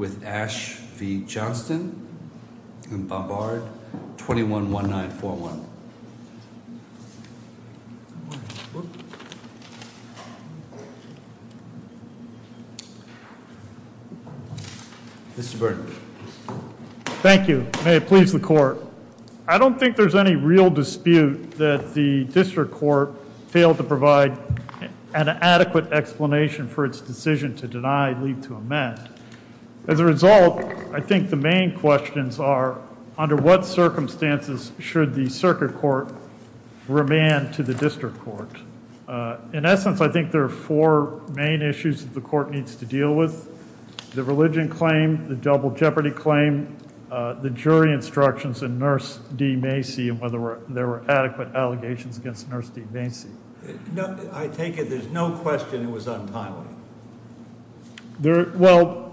with Ash v. Johnston and Bombard 21-1941. Mr. Burnett. Thank you. May it please the court. I don't think there's any real dispute that the district court failed to provide an adequate explanation for its decision to deny and leave to amend. As a result, I think the main questions are, under what circumstances should the circuit court remand to the district court? In essence, I think there are four main issues that the court needs to deal with. The religion claim, the double jeopardy claim, the jury instructions in Nurse D. Macy and whether there were adequate allegations against Nurse D. Macy. I take it there's no question it was untimely. Well,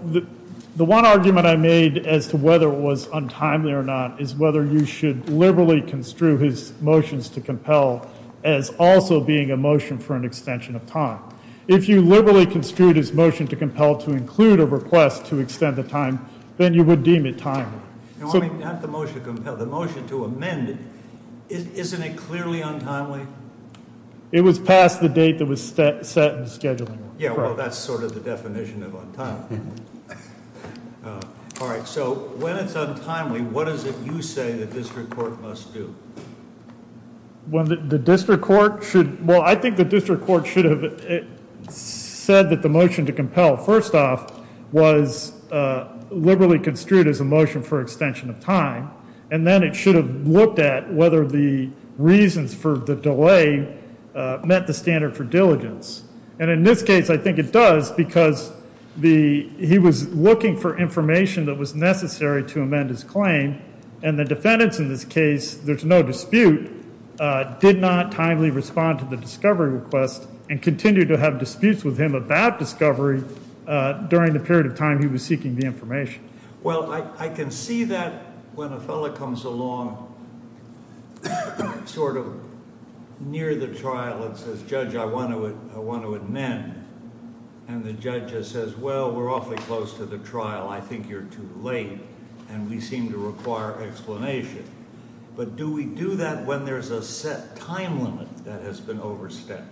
the one argument I made as to whether it was untimely or not is whether you should liberally construe his motions to compel as also being a motion for an extension of time. If you liberally construed his motion to compel to include a request to extend the time, then you would deem it timely. No, I mean, not the motion to compel, the motion to amend, isn't it clearly untimely? It was past the date that was set in the scheduling. Yeah, well, that's sort of the definition of untimely. All right, so when it's untimely, what is it you say the district court must do? Well, the district court should, well, I think the district court should have said that the motion to compel, first off, was liberally construed as a motion for extension of time, and then it should have looked at whether the reasons for the delay met the standard for diligence. And in this case, I think it does, because he was looking for information that was necessary to amend his claim. And the defendants in this case, there's no dispute, did not timely respond to the discovery request and continue to have disputes with him about discovery during the period of time he was seeking the information. Well, I can see that when a fellow comes along, sort of near the trial and says, Judge, I want to amend, and the judge says, well, we're awfully close to the trial. I think you're too late. And we seem to require explanation. But do we do that when there's a set time limit that has been overstepped?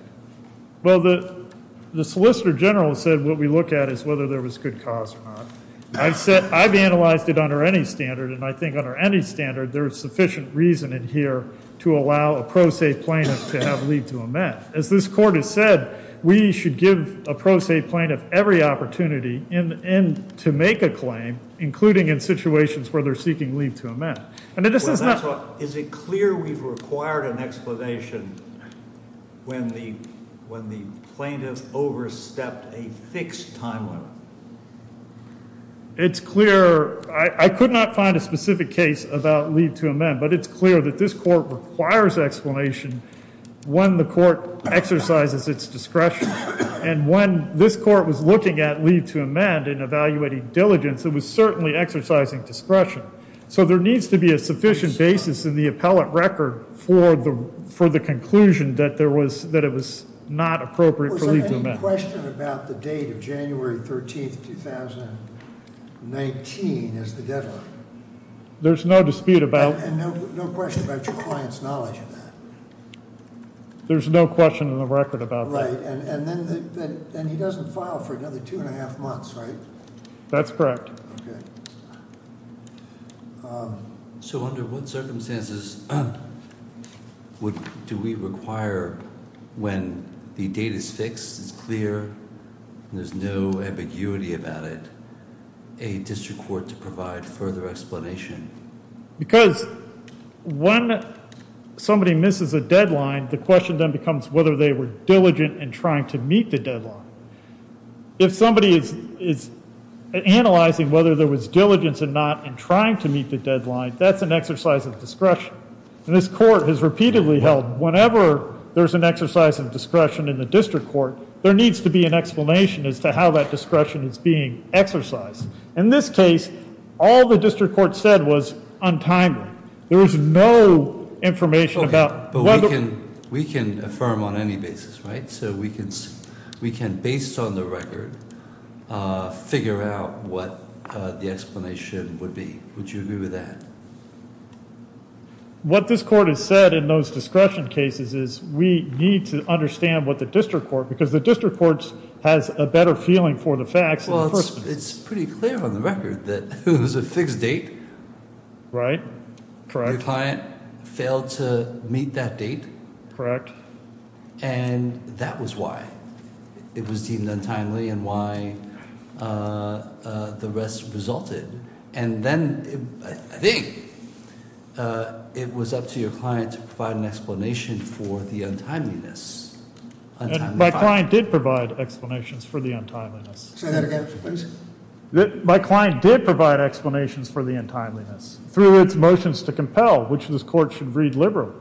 Well, the solicitor general said what we look at is whether there was good cause or not. I've said I've analyzed it under any standard, and I think under any standard, there is sufficient reason in here to allow a pro se plaintiff to have lead to amend. As this court has said, we should give a pro se plaintiff every opportunity in to make a claim, including in situations where they're seeking lead to amend. And it is not. Is it clear we've required an explanation when the when the plaintiff overstepped a fixed time limit? It's clear I could not find a specific case about lead to amend, but it's clear that this court requires explanation when the court exercises its discretion and when this court was looking at lead to amend and evaluating diligence, it was certainly exercising discretion. So there needs to be a sufficient basis in the appellate record for the for the conclusion that there was that it was not appropriate for lead to amend. Was there any question about the date of January 13th, 2019 as the deadline? There's no dispute about and no question about your client's knowledge of that. There's no question in the record about that. And then he doesn't file for another two and a half months, right? That's correct. So under what circumstances do we require when the date is fixed, it's clear, there's no ambiguity about it, a district court to provide further explanation because when somebody misses a deadline, the question then becomes whether they were diligent in trying to meet the deadline. If somebody is is analyzing whether there was diligence and not in trying to meet the deadline, that's an exercise of discretion. And this court has repeatedly held whenever there's an exercise of discretion in the district court, there needs to be an explanation as to how that discretion is being exercised. In this case, all the district court said was untimely. There is no information about what we can we can affirm on any basis. Right. So we can we can based on the record, figure out what the explanation would be. Would you agree with that? What this court has said in those discretion cases is we need to understand what the district court, because the district courts has a better feeling for the facts. Well, it's pretty clear on the record that it was a fixed date, right? Correct. Client failed to meet that date. Correct. And that was why it was deemed untimely and why the rest resulted. And then I think it was up to your client to provide an explanation for the untimeliness. My client did provide explanations for the untimeliness. Say that again, please. My client did provide explanations for the untimeliness through its motions to compel, which this court should read liberally.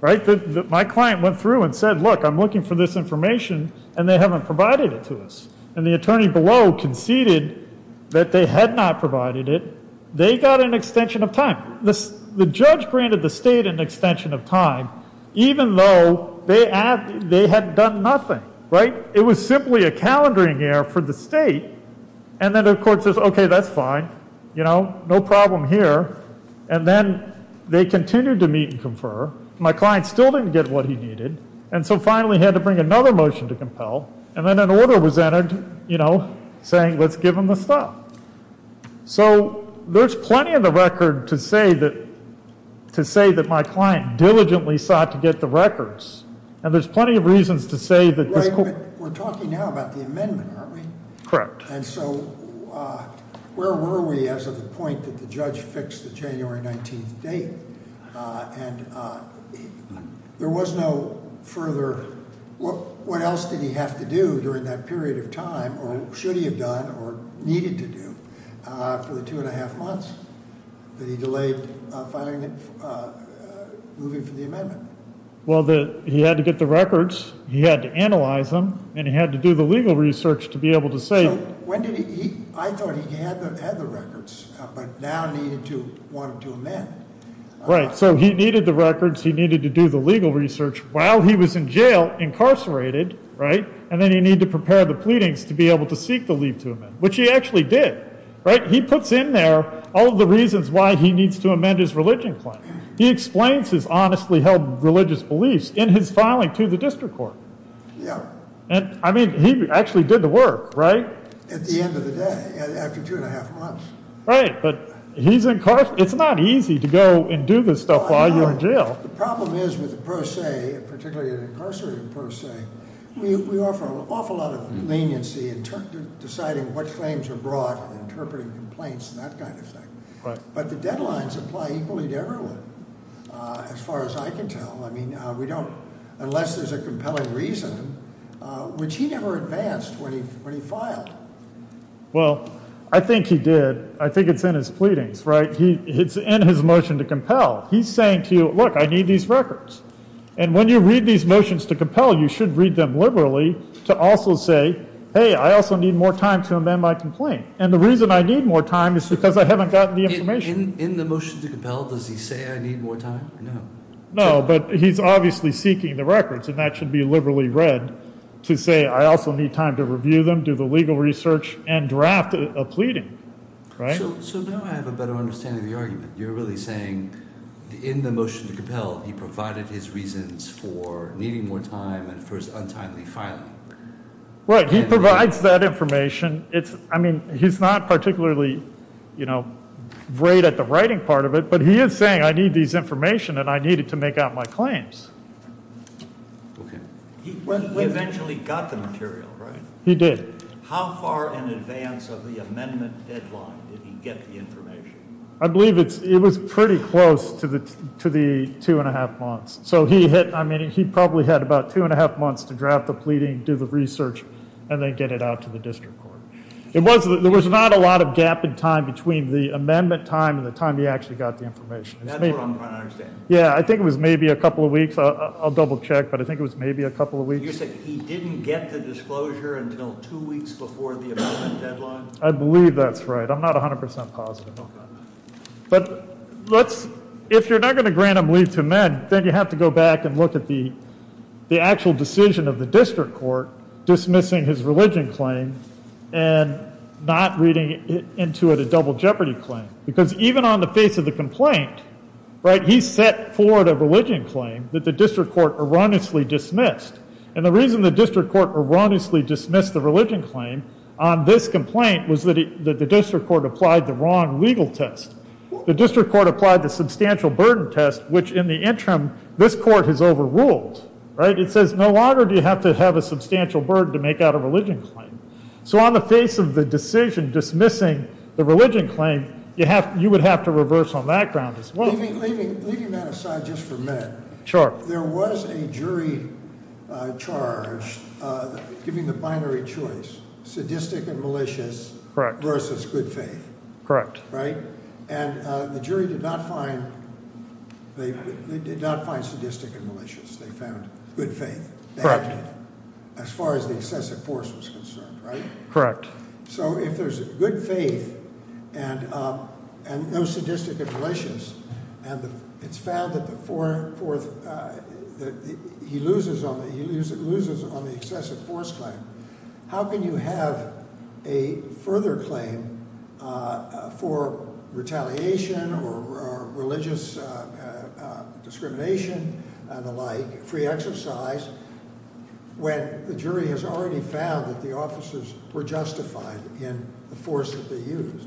Right. My client went through and said, look, I'm looking for this information and they haven't provided it to us. And the attorney below conceded that they had not provided it. They got an extension of time. The judge granted the state an extension of time, even though they had they had done nothing. Right. It was simply a calendaring error for the state. And then, of course, is OK, that's fine. You know, no problem here. And then they continued to meet and confer. My client still didn't get what he needed. And so finally had to bring another motion to compel. And then an order was entered, you know, saying, let's give him the stuff. So there's plenty of the record to say that to say that my client diligently sought to get the records. And there's plenty of reasons to say that we're talking now about the amendment, aren't we? Correct. And so where were we as of the point that the judge fixed the January 19th date? And there was no further what what else did he have to do during that period of time or should he have done or needed to do for the two and a half months that he delayed moving for the amendment? Well, he had to get the records. He had to analyze them and he had to do the legal research to be able to say when did he I thought he had the records, but now needed to want to amend. So he needed the records. He needed to do the legal research while he was in jail, incarcerated. And then you need to prepare the pleadings to be able to seek the leave to him, which he actually did. Right. He puts in there all the reasons why he needs to amend his religion. He explains his honestly held religious beliefs in his filing to the district court. And I mean, he actually did the work right at the end of the day after two and a half months. Right. But it's not easy to go and do this stuff while you're in jail. The problem is with the pro se, particularly an incarcerated pro se, we offer an awful lot of leniency in deciding what claims are brought and interpreting complaints and that kind of thing. But the deadlines apply equally to everyone as far as I can tell. I mean, we don't unless there's a compelling reason, which he never advanced when he filed. Well, I think he did. I think it's in his pleadings. He it's in his motion to compel. He's saying to you, look, I need these records. And when you read these motions to compel, you should read them liberally to also say, hey, I also need more time to amend my complaint. And the reason I need more time is because I haven't gotten the information in the motion to compel. Does he say I need more time? No, no. But he's obviously seeking the records and that should be liberally read to say, I also need time to review them, do the legal research and draft a pleading. So now I have a better understanding of the argument. You're really saying in the motion to compel, he provided his reasons for needing more time and first untimely filing. Right. He provides that information. It's I mean, he's not particularly, you know, great at the writing part of it, but he is saying I need this information and I need it to make out my claims. OK, he eventually got the material, right? He did. How far in advance of the amendment deadline did he get the information? I believe it was pretty close to the two and a half months. So he hit I mean, he probably had about two and a half months to draft the pleading, do the research and then get it out to the district court. It was there was not a lot of gap in time between the amendment time and the time he actually got the information. And that's what I'm trying to understand. Yeah, I think it was maybe a couple of weeks. I'll double check. But I think it was maybe a couple of weeks. He didn't get the disclosure until two weeks before the deadline. I believe that's right. I'm not 100 percent positive. But let's if you're not going to grant him leave to amend, then you have to go back and look at the the actual decision of the district court dismissing his religion claim and not reading into it a double jeopardy claim, because even on the face of the complaint, right, he set forward a religion claim that the district court erroneously dismissed. And the reason the district court erroneously dismissed the religion claim on this complaint was that the district court applied the wrong legal test. The district court applied the substantial burden test, which in the interim, this court has overruled, right? It says no longer do you have to have a substantial burden to make out a religion claim. So on the face of the decision dismissing the religion claim, you have you would have to reverse on that ground as well. Leaving that aside just for a minute. Sure. There was a jury charge giving the binary choice, sadistic and malicious versus good faith. Correct. Right? And the jury did not find they did not find sadistic and malicious. They found good faith. As far as the excessive force was concerned, right? Correct. So if there's good faith and and no sadistic and malicious and it's found that the fourth that he loses on the he loses on the excessive force claim. How can you have a further claim for retaliation or religious discrimination and the like free exercise when the jury has already found that the officers were justified in the force that they used?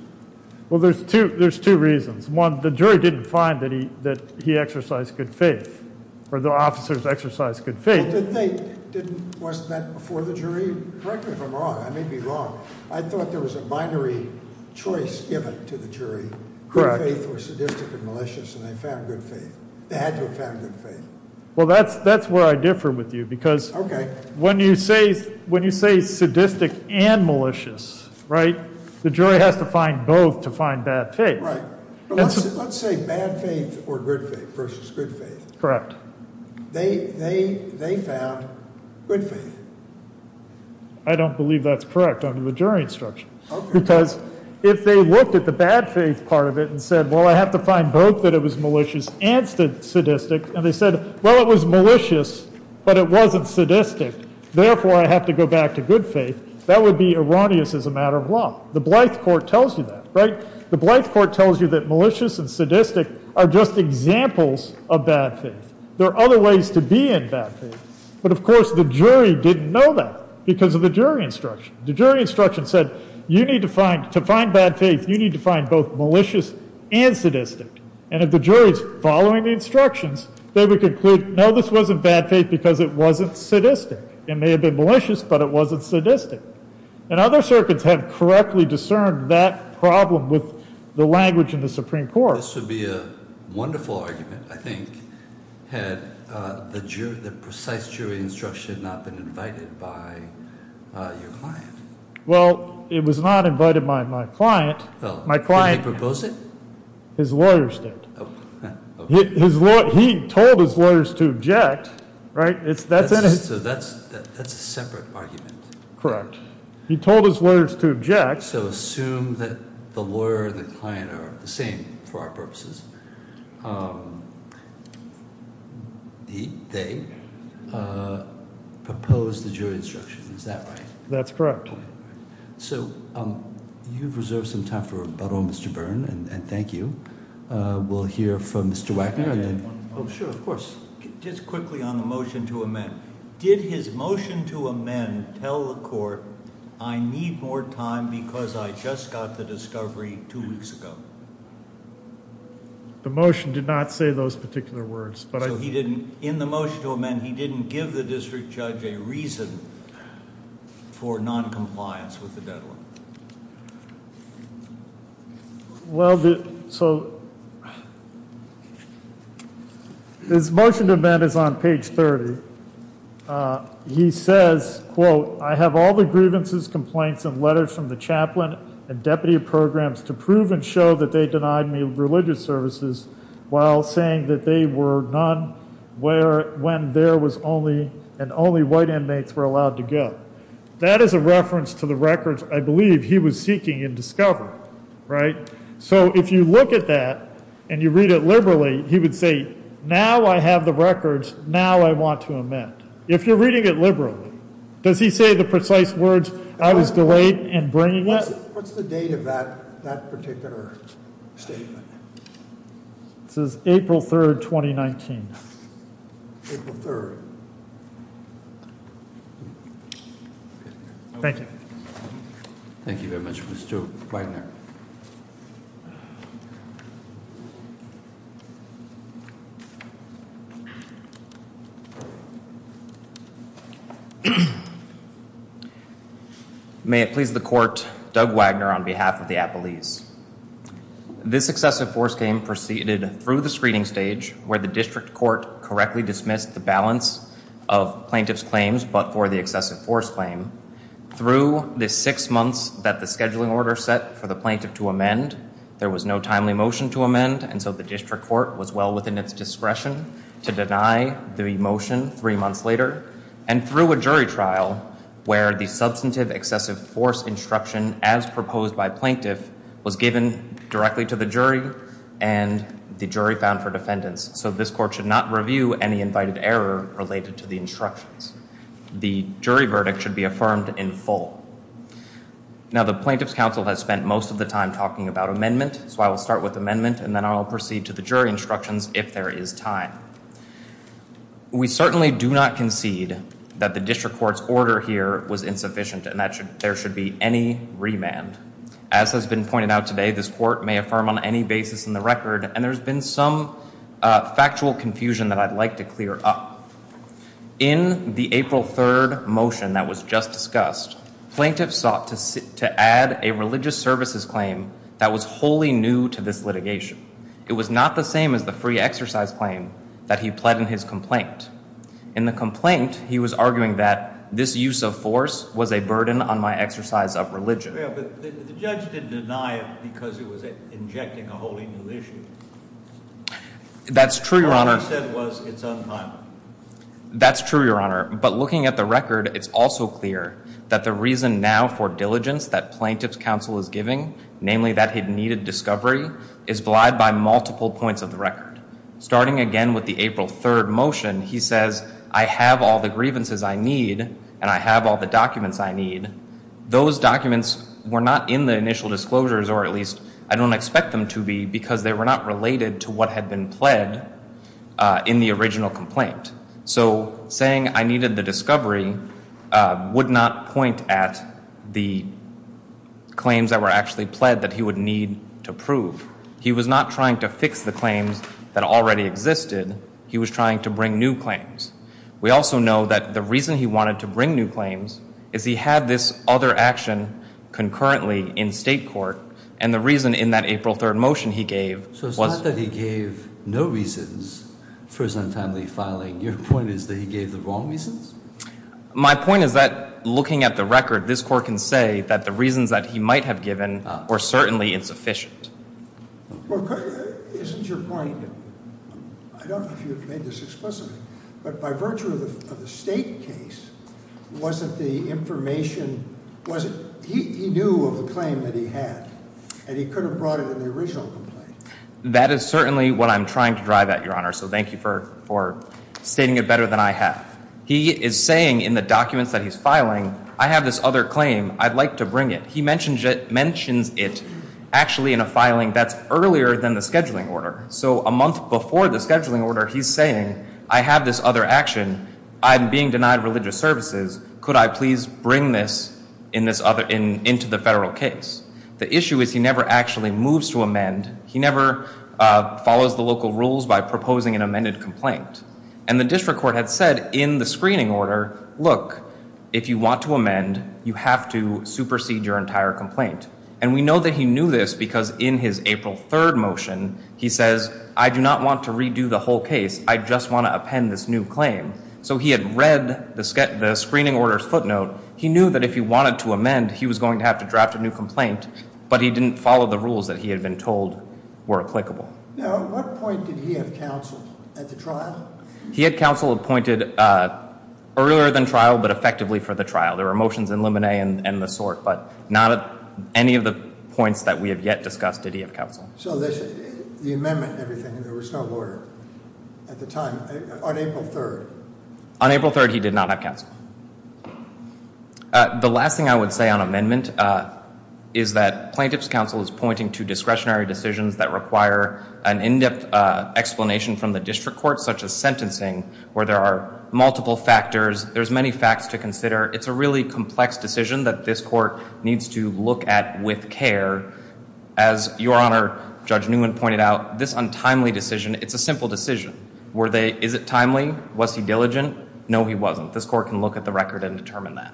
Well, there's two. There's two reasons. One, the jury didn't find that he that he exercised good faith or the officers exercise good faith. They didn't. Wasn't that before the jury? Correct me if I'm wrong. I may be wrong. I thought there was a binary choice given to the jury. Correct. Faith was sadistic and malicious and they found good faith. They had to have found good faith. Well, that's that's where I differ with you, because when you say when you say sadistic and malicious, right? The jury has to find both to find bad faith. Right. Let's say bad faith or good faith versus good faith. Correct. They they they found good faith. I don't believe that's correct under the jury instruction, because if they looked at the bad faith part of it and said, well, I have to find both that it was malicious and sadistic. And they said, well, it was malicious, but it wasn't sadistic. Therefore, I have to go back to good faith. That would be erroneous as a matter of law. The Blyth Court tells you that, right? The Blyth Court tells you that malicious and sadistic are just examples of bad faith. There are other ways to be in bad faith. But of course, the jury didn't know that because of the jury instruction. The jury instruction said you need to find to find bad faith. You need to find both malicious and sadistic. And if the jury is following the instructions, they would conclude, no, this wasn't bad faith because it wasn't sadistic. It may have been malicious, but it wasn't sadistic. And other circuits have correctly discerned that problem with the language in the Supreme Court. This would be a wonderful argument, I think, had the precise jury instruction not been invited by your client. Well, it was not invited by my client. Well, did he propose it? His lawyers did. He told his lawyers to object, right? That's a separate argument. He told his lawyers to object. So assume that the lawyer and the client are the same for our purposes. They proposed the jury instruction. Is that right? That's correct. So you've reserved some time for rebuttal, Mr. Byrne, and thank you. We'll hear from Mr. Wackengard then. Oh, sure. Of course. Just quickly on the motion to amend. Did his motion to amend tell the court, I need more time because I just got the discovery two weeks ago? The motion did not say those particular words. In the motion to amend, he didn't give the district judge a reason for noncompliance with the deadline. Well, so his motion to amend is on page 30. He says, quote, I have all the grievances, complaints, and letters from the chaplain and deputy of programs to prove and show that they denied me religious services while saying that they were none when there was only and only white inmates were allowed to go. That is a reference to the records I believe he was seeking in discovery, right? So if you look at that and you read it liberally, he would say, now I have the records. Now I want to amend. If you're reading it liberally, does he say the precise words, I was delayed in bringing it? What's the date of that particular statement? It says April 3rd, 2019. Thank you. Thank you very much, Mr. Wagner. May it please the court, Doug Wagner on behalf of the Appalese. This excessive force game proceeded through the screening stage where the district court correctly dismissed the balance of plaintiff's claims but for the excessive force claim. Through the six months that the scheduling order set for the plaintiff to amend, there was no timely motion to amend and so the district court was well within its discretion to deny the motion three months later. And through a jury trial where the substantive excessive force instruction as proposed by plaintiff was given directly to the jury and the jury found for defendants. So this court should not review any invited error related to the instructions. The jury verdict should be affirmed in full. Now the plaintiff's counsel has spent most of the time talking about amendment. So I will start with amendment and then I will proceed to the jury instructions if there is time. We certainly do not concede that the district court's order here was insufficient and that there should be any remand. As has been pointed out today, this court may affirm on any basis in the record and there's been some factual confusion that I'd like to clear up. In the April 3rd motion that was just discussed, plaintiffs sought to add a religious services claim that was wholly new to this litigation. It was not the same as the free exercise claim that he pled in his complaint. In the complaint, he was arguing that this use of force was a burden on my exercise of religion. Yeah, but the judge didn't deny it because it was injecting a wholly new issue. That's true, Your Honor. What he said was it's untimely. That's true, Your Honor. But looking at the record, it's also clear that the reason now for diligence that plaintiff's counsel is giving, namely that he'd needed discovery, is vlied by multiple points of the record. Starting again with the April 3rd motion, he says, I have all the grievances I need and I have all the documents I need. Those documents were not in the initial disclosures, or at least I don't expect them to be, because they were not related to what had been pled in the original complaint. So saying I needed the discovery would not point at the claims that were actually pled that he would need to prove. He was not trying to fix the claims that already existed. He was trying to bring new claims. We also know that the reason he wanted to bring new claims is he had this other action concurrently in state court, and the reason in that April 3rd motion he gave was... So it's not that he gave no reasons for his untimely filing. Your point is that he gave the wrong reasons? My point is that looking at the record, this court can say that the reasons that he might have given were certainly insufficient. Well, isn't your point... I don't know if you've made this explicitly, but by virtue of the state case, wasn't the information... He knew of the claim that he had, and he could have brought it in the original complaint. That is certainly what I'm trying to drive at, Your Honor, so thank you for stating it better than I have. He is saying in the documents that he's filing, I have this other claim, I'd like to bring it. He mentions it actually in a filing that's earlier than the scheduling order. So a month before the scheduling order, he's saying, I have this other action, I'm being denied religious services, could I please bring this into the federal case? The issue is he never actually moves to amend. He never follows the local rules by proposing an amended complaint, and the district court had said in the screening order, look, if you want to amend, you have to supersede your entire complaint. And we know that he knew this because in his April 3rd motion, he says, I do not want to redo the whole case, I just want to append this new claim. So he had read the screening order's footnote, he knew that if he wanted to amend, he was going to have to draft a new complaint, but he didn't follow the rules that he had been told were applicable. Now, at what point did he have counsel at the trial? He had counsel appointed earlier than trial, but effectively for the trial. There were motions in Luminae and the sort, but not at any of the points that we have yet discussed did he have counsel. So the amendment and everything, there was no order at the time on April 3rd? On April 3rd, he did not have counsel. The last thing I would say on amendment is that plaintiff's counsel is pointing to discretionary decisions that require an in-depth explanation from the district court, such as sentencing, where there are multiple factors. There's many facts to consider. It's a really complex decision that this court needs to look at with care. As Your Honor, Judge Newman pointed out, this untimely decision, it's a simple decision. Is it timely? Was he diligent? No, he wasn't. This court can look at the record and determine that.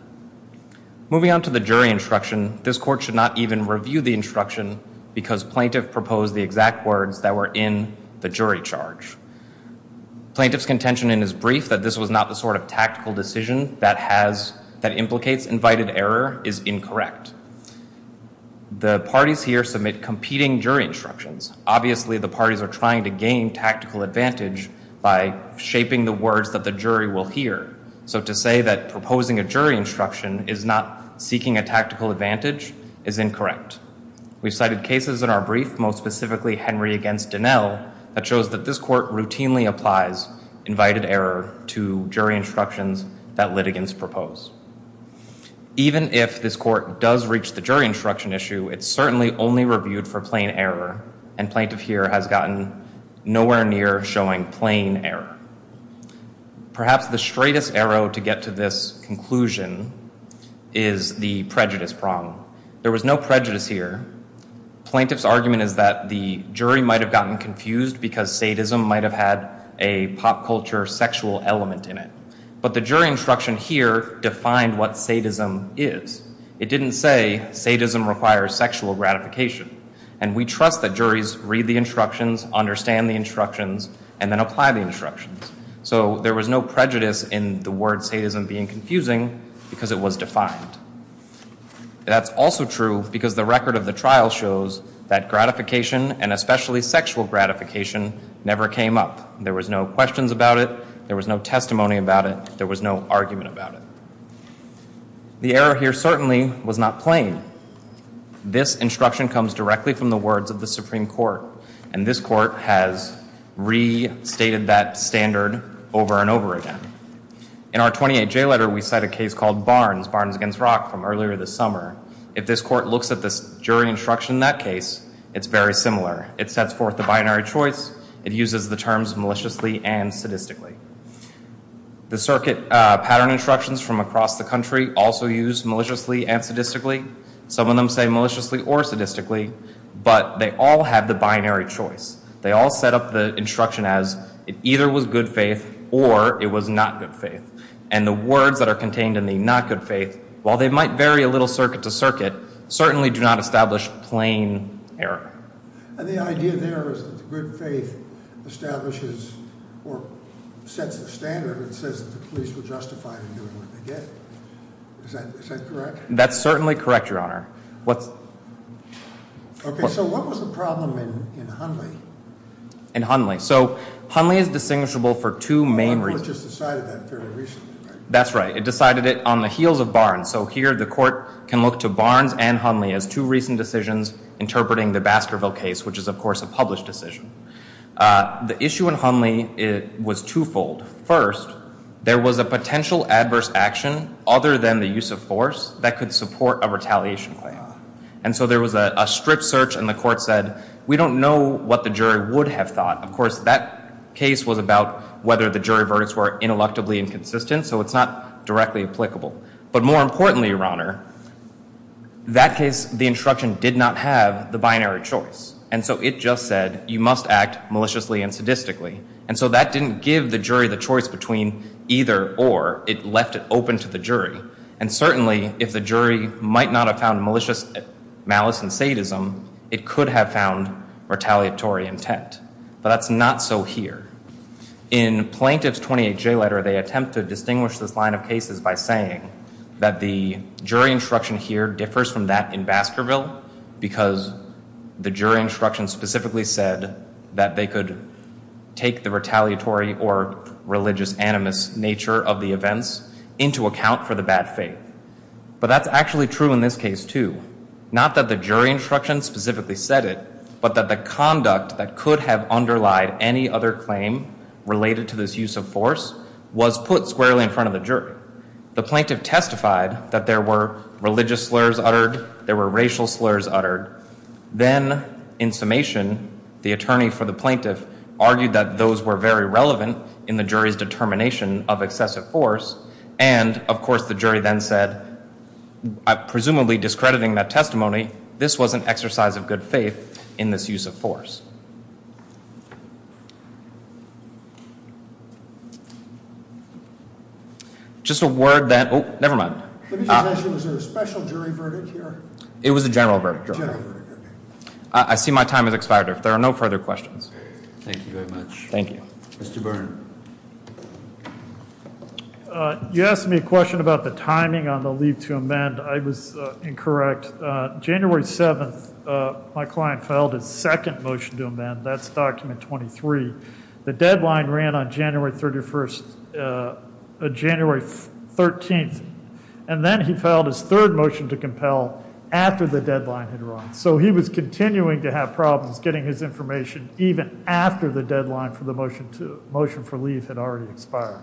Moving on to the jury instruction, this court should not even review the instruction because plaintiff proposed the exact words that were in the jury charge. Plaintiff's contention in his brief that this was not the sort of tactical decision that implicates invited error is incorrect. The parties here submit competing jury instructions. Obviously, the parties are trying to gain tactical advantage by shaping the words that the jury will hear. So to say that proposing a jury instruction is not seeking a tactical advantage is incorrect. We've cited cases in our brief, most specifically Henry against Dinell, that shows that this court routinely applies invited error to jury instructions that litigants propose. Even if this court does reach the jury instruction issue, it's certainly only reviewed for plain error. And plaintiff here has gotten nowhere near showing plain error. Perhaps the straightest arrow to get to this conclusion is the prejudice prong. There was no prejudice here. Plaintiff's argument is that the jury might have gotten confused because sadism might have had a pop culture sexual element in it. But the jury instruction here defined what sadism is. It didn't say sadism requires sexual gratification. And we trust that juries read the instructions, understand the instructions, and then apply the instructions. So there was no prejudice in the word sadism being confusing because it was defined. That's also true because the record of the trial shows that gratification and especially sexual gratification never came up. There was no questions about it. There was no testimony about it. There was no argument about it. The error here certainly was not plain. This instruction comes directly from the words of the Supreme Court. And this court has restated that standard over and over again. In our 28J letter, we cite a case called Barnes, Barnes against Rock from earlier this summer. If this court looks at this jury instruction in that case, it's very similar. It sets forth the binary choice. It uses the terms maliciously and sadistically. The circuit pattern instructions from across the country also use maliciously and sadistically. Some of them say maliciously or sadistically. But they all have the binary choice. They all set up the instruction as it either was good faith or it was not good faith. And the words that are contained in the not good faith, while they might vary a little circuit to circuit, certainly do not establish plain error. And the idea there is that the good faith establishes or sets the standard and says that the police were justified in doing what they did. Is that correct? That's certainly correct, Your Honor. Okay, so what was the problem in Hunley? In Hunley. So Hunley is distinguishable for two main reasons. The court just decided that fairly recently. That's right. It decided it on the heels of Barnes. So here the court can look to Barnes and Hunley as two recent decisions interpreting the Baskerville case, which is, of course, a published decision. The issue in Hunley was twofold. First, there was a potential adverse action other than the use of force that could support a retaliation claim. And so there was a strict search and the court said, we don't know what the jury would have thought. Of course, that case was about whether the jury verdicts were intellectually inconsistent. So it's not directly applicable. But more importantly, Your Honor, that case, the instruction did not have the binary choice. And so it just said, you must act maliciously and sadistically. And so that didn't give the jury the choice between either or. It left it open to the jury. And certainly, if the jury might not have found malicious malice and sadism, it could have found retaliatory intent. But that's not so here. In Plaintiff's 28J letter, they attempt to distinguish this line of cases by saying that the jury instruction here differs from that in Baskerville because the jury instruction specifically said that they could take the retaliatory or religious animus nature of the events into account for the bad faith. But that's actually true in this case, too. Not that the jury instruction specifically said it, but that the conduct that could have underlied any other claim related to this use of force was put squarely in front of the jury. The plaintiff testified that there were religious slurs uttered. There were racial slurs uttered. Then, in summation, the attorney for the plaintiff argued that those were very relevant in the jury's determination of excessive force. And of course, the jury then said, presumably discrediting that testimony, this was an exercise of good faith in this use of force. Just a word that... Oh, never mind. Let me just ask you, was there a special jury verdict here? It was a general verdict. I see my time has expired. There are no further questions. Thank you very much. Thank you. Mr. Byrne. You asked me a question about the timing on the leave to amend. I was incorrect. January 7th, my client filed his second motion to amend. That's document 23. The deadline ran on January 31st, January 13th. And then he filed his third motion to compel after the deadline had run. So he was continuing to have problems getting his information even after the deadline for the motion for leave had already expired.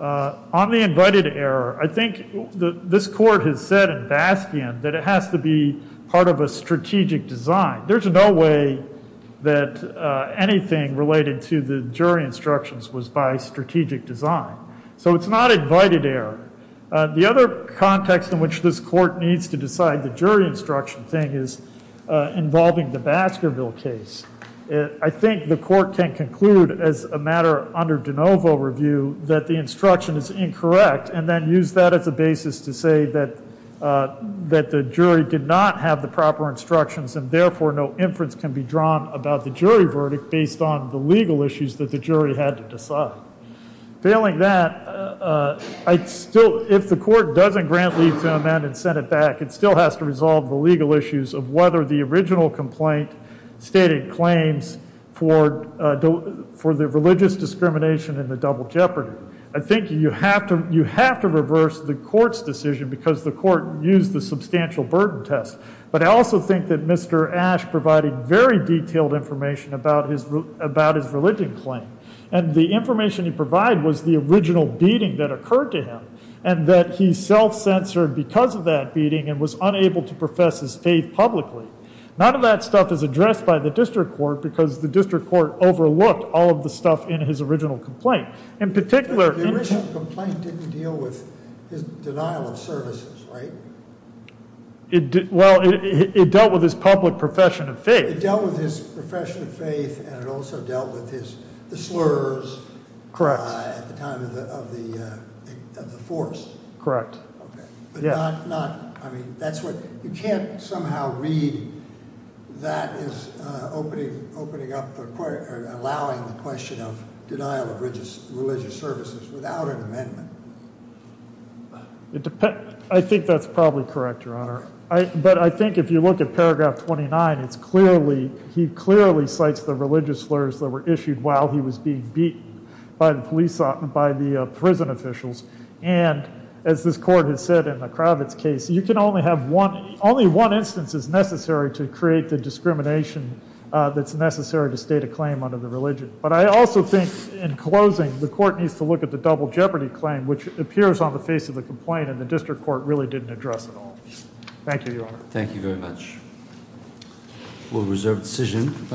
On the invited error, I think this court has said in Baskin that it has to be part of a strategic design. There's no way that anything related to the jury instructions was by strategic design. So it's not invited error. The other context in which this court needs to decide the jury instruction thing is involving the Baskerville case. I think the court can conclude as a matter under DeNovo review that the instruction is incorrect and then use that as a basis to say that that the jury did not have the proper instructions and therefore no inference can be drawn about the jury verdict based on the legal issues that the jury had to decide. Failing that, if the court doesn't grant leave to amend and send it back, it still has to resolve the legal issues of whether the original complaint stated claims for the religious discrimination in the double jeopardy. I think you have to reverse the court's decision because the court used the substantial burden test. But I also think that Mr. Ash provided very detailed information about his religion claim. And the information he provided was the original beating that occurred to him and that he self-censored because of that beating and was unable to profess his faith publicly. None of that stuff is addressed by the district court because the district court overlooked all of the stuff in his original complaint. In particular, the original complaint didn't deal with his denial of services, right? Well, it dealt with his public profession of faith. It dealt with his profession of faith and it also dealt with the slurs at the time of the force. Correct. I mean, you can't somehow read that as opening up or allowing the question of denial of religious services without an amendment. I think that's probably correct, Your Honor. But I think if you look at paragraph 29, he clearly cites the religious slurs that were issued while he was being beaten by the prison officials. And as this court has said in the Kravitz case, you can only have one, only one instance is necessary to create the discrimination that's necessary to state a claim under the religion. But I also think in closing, the court needs to look at the double jeopardy claim, which appears on the face of the complaint and the district court really didn't address it all. Thank you, Your Honor. Thank you very much. We'll reserve decision.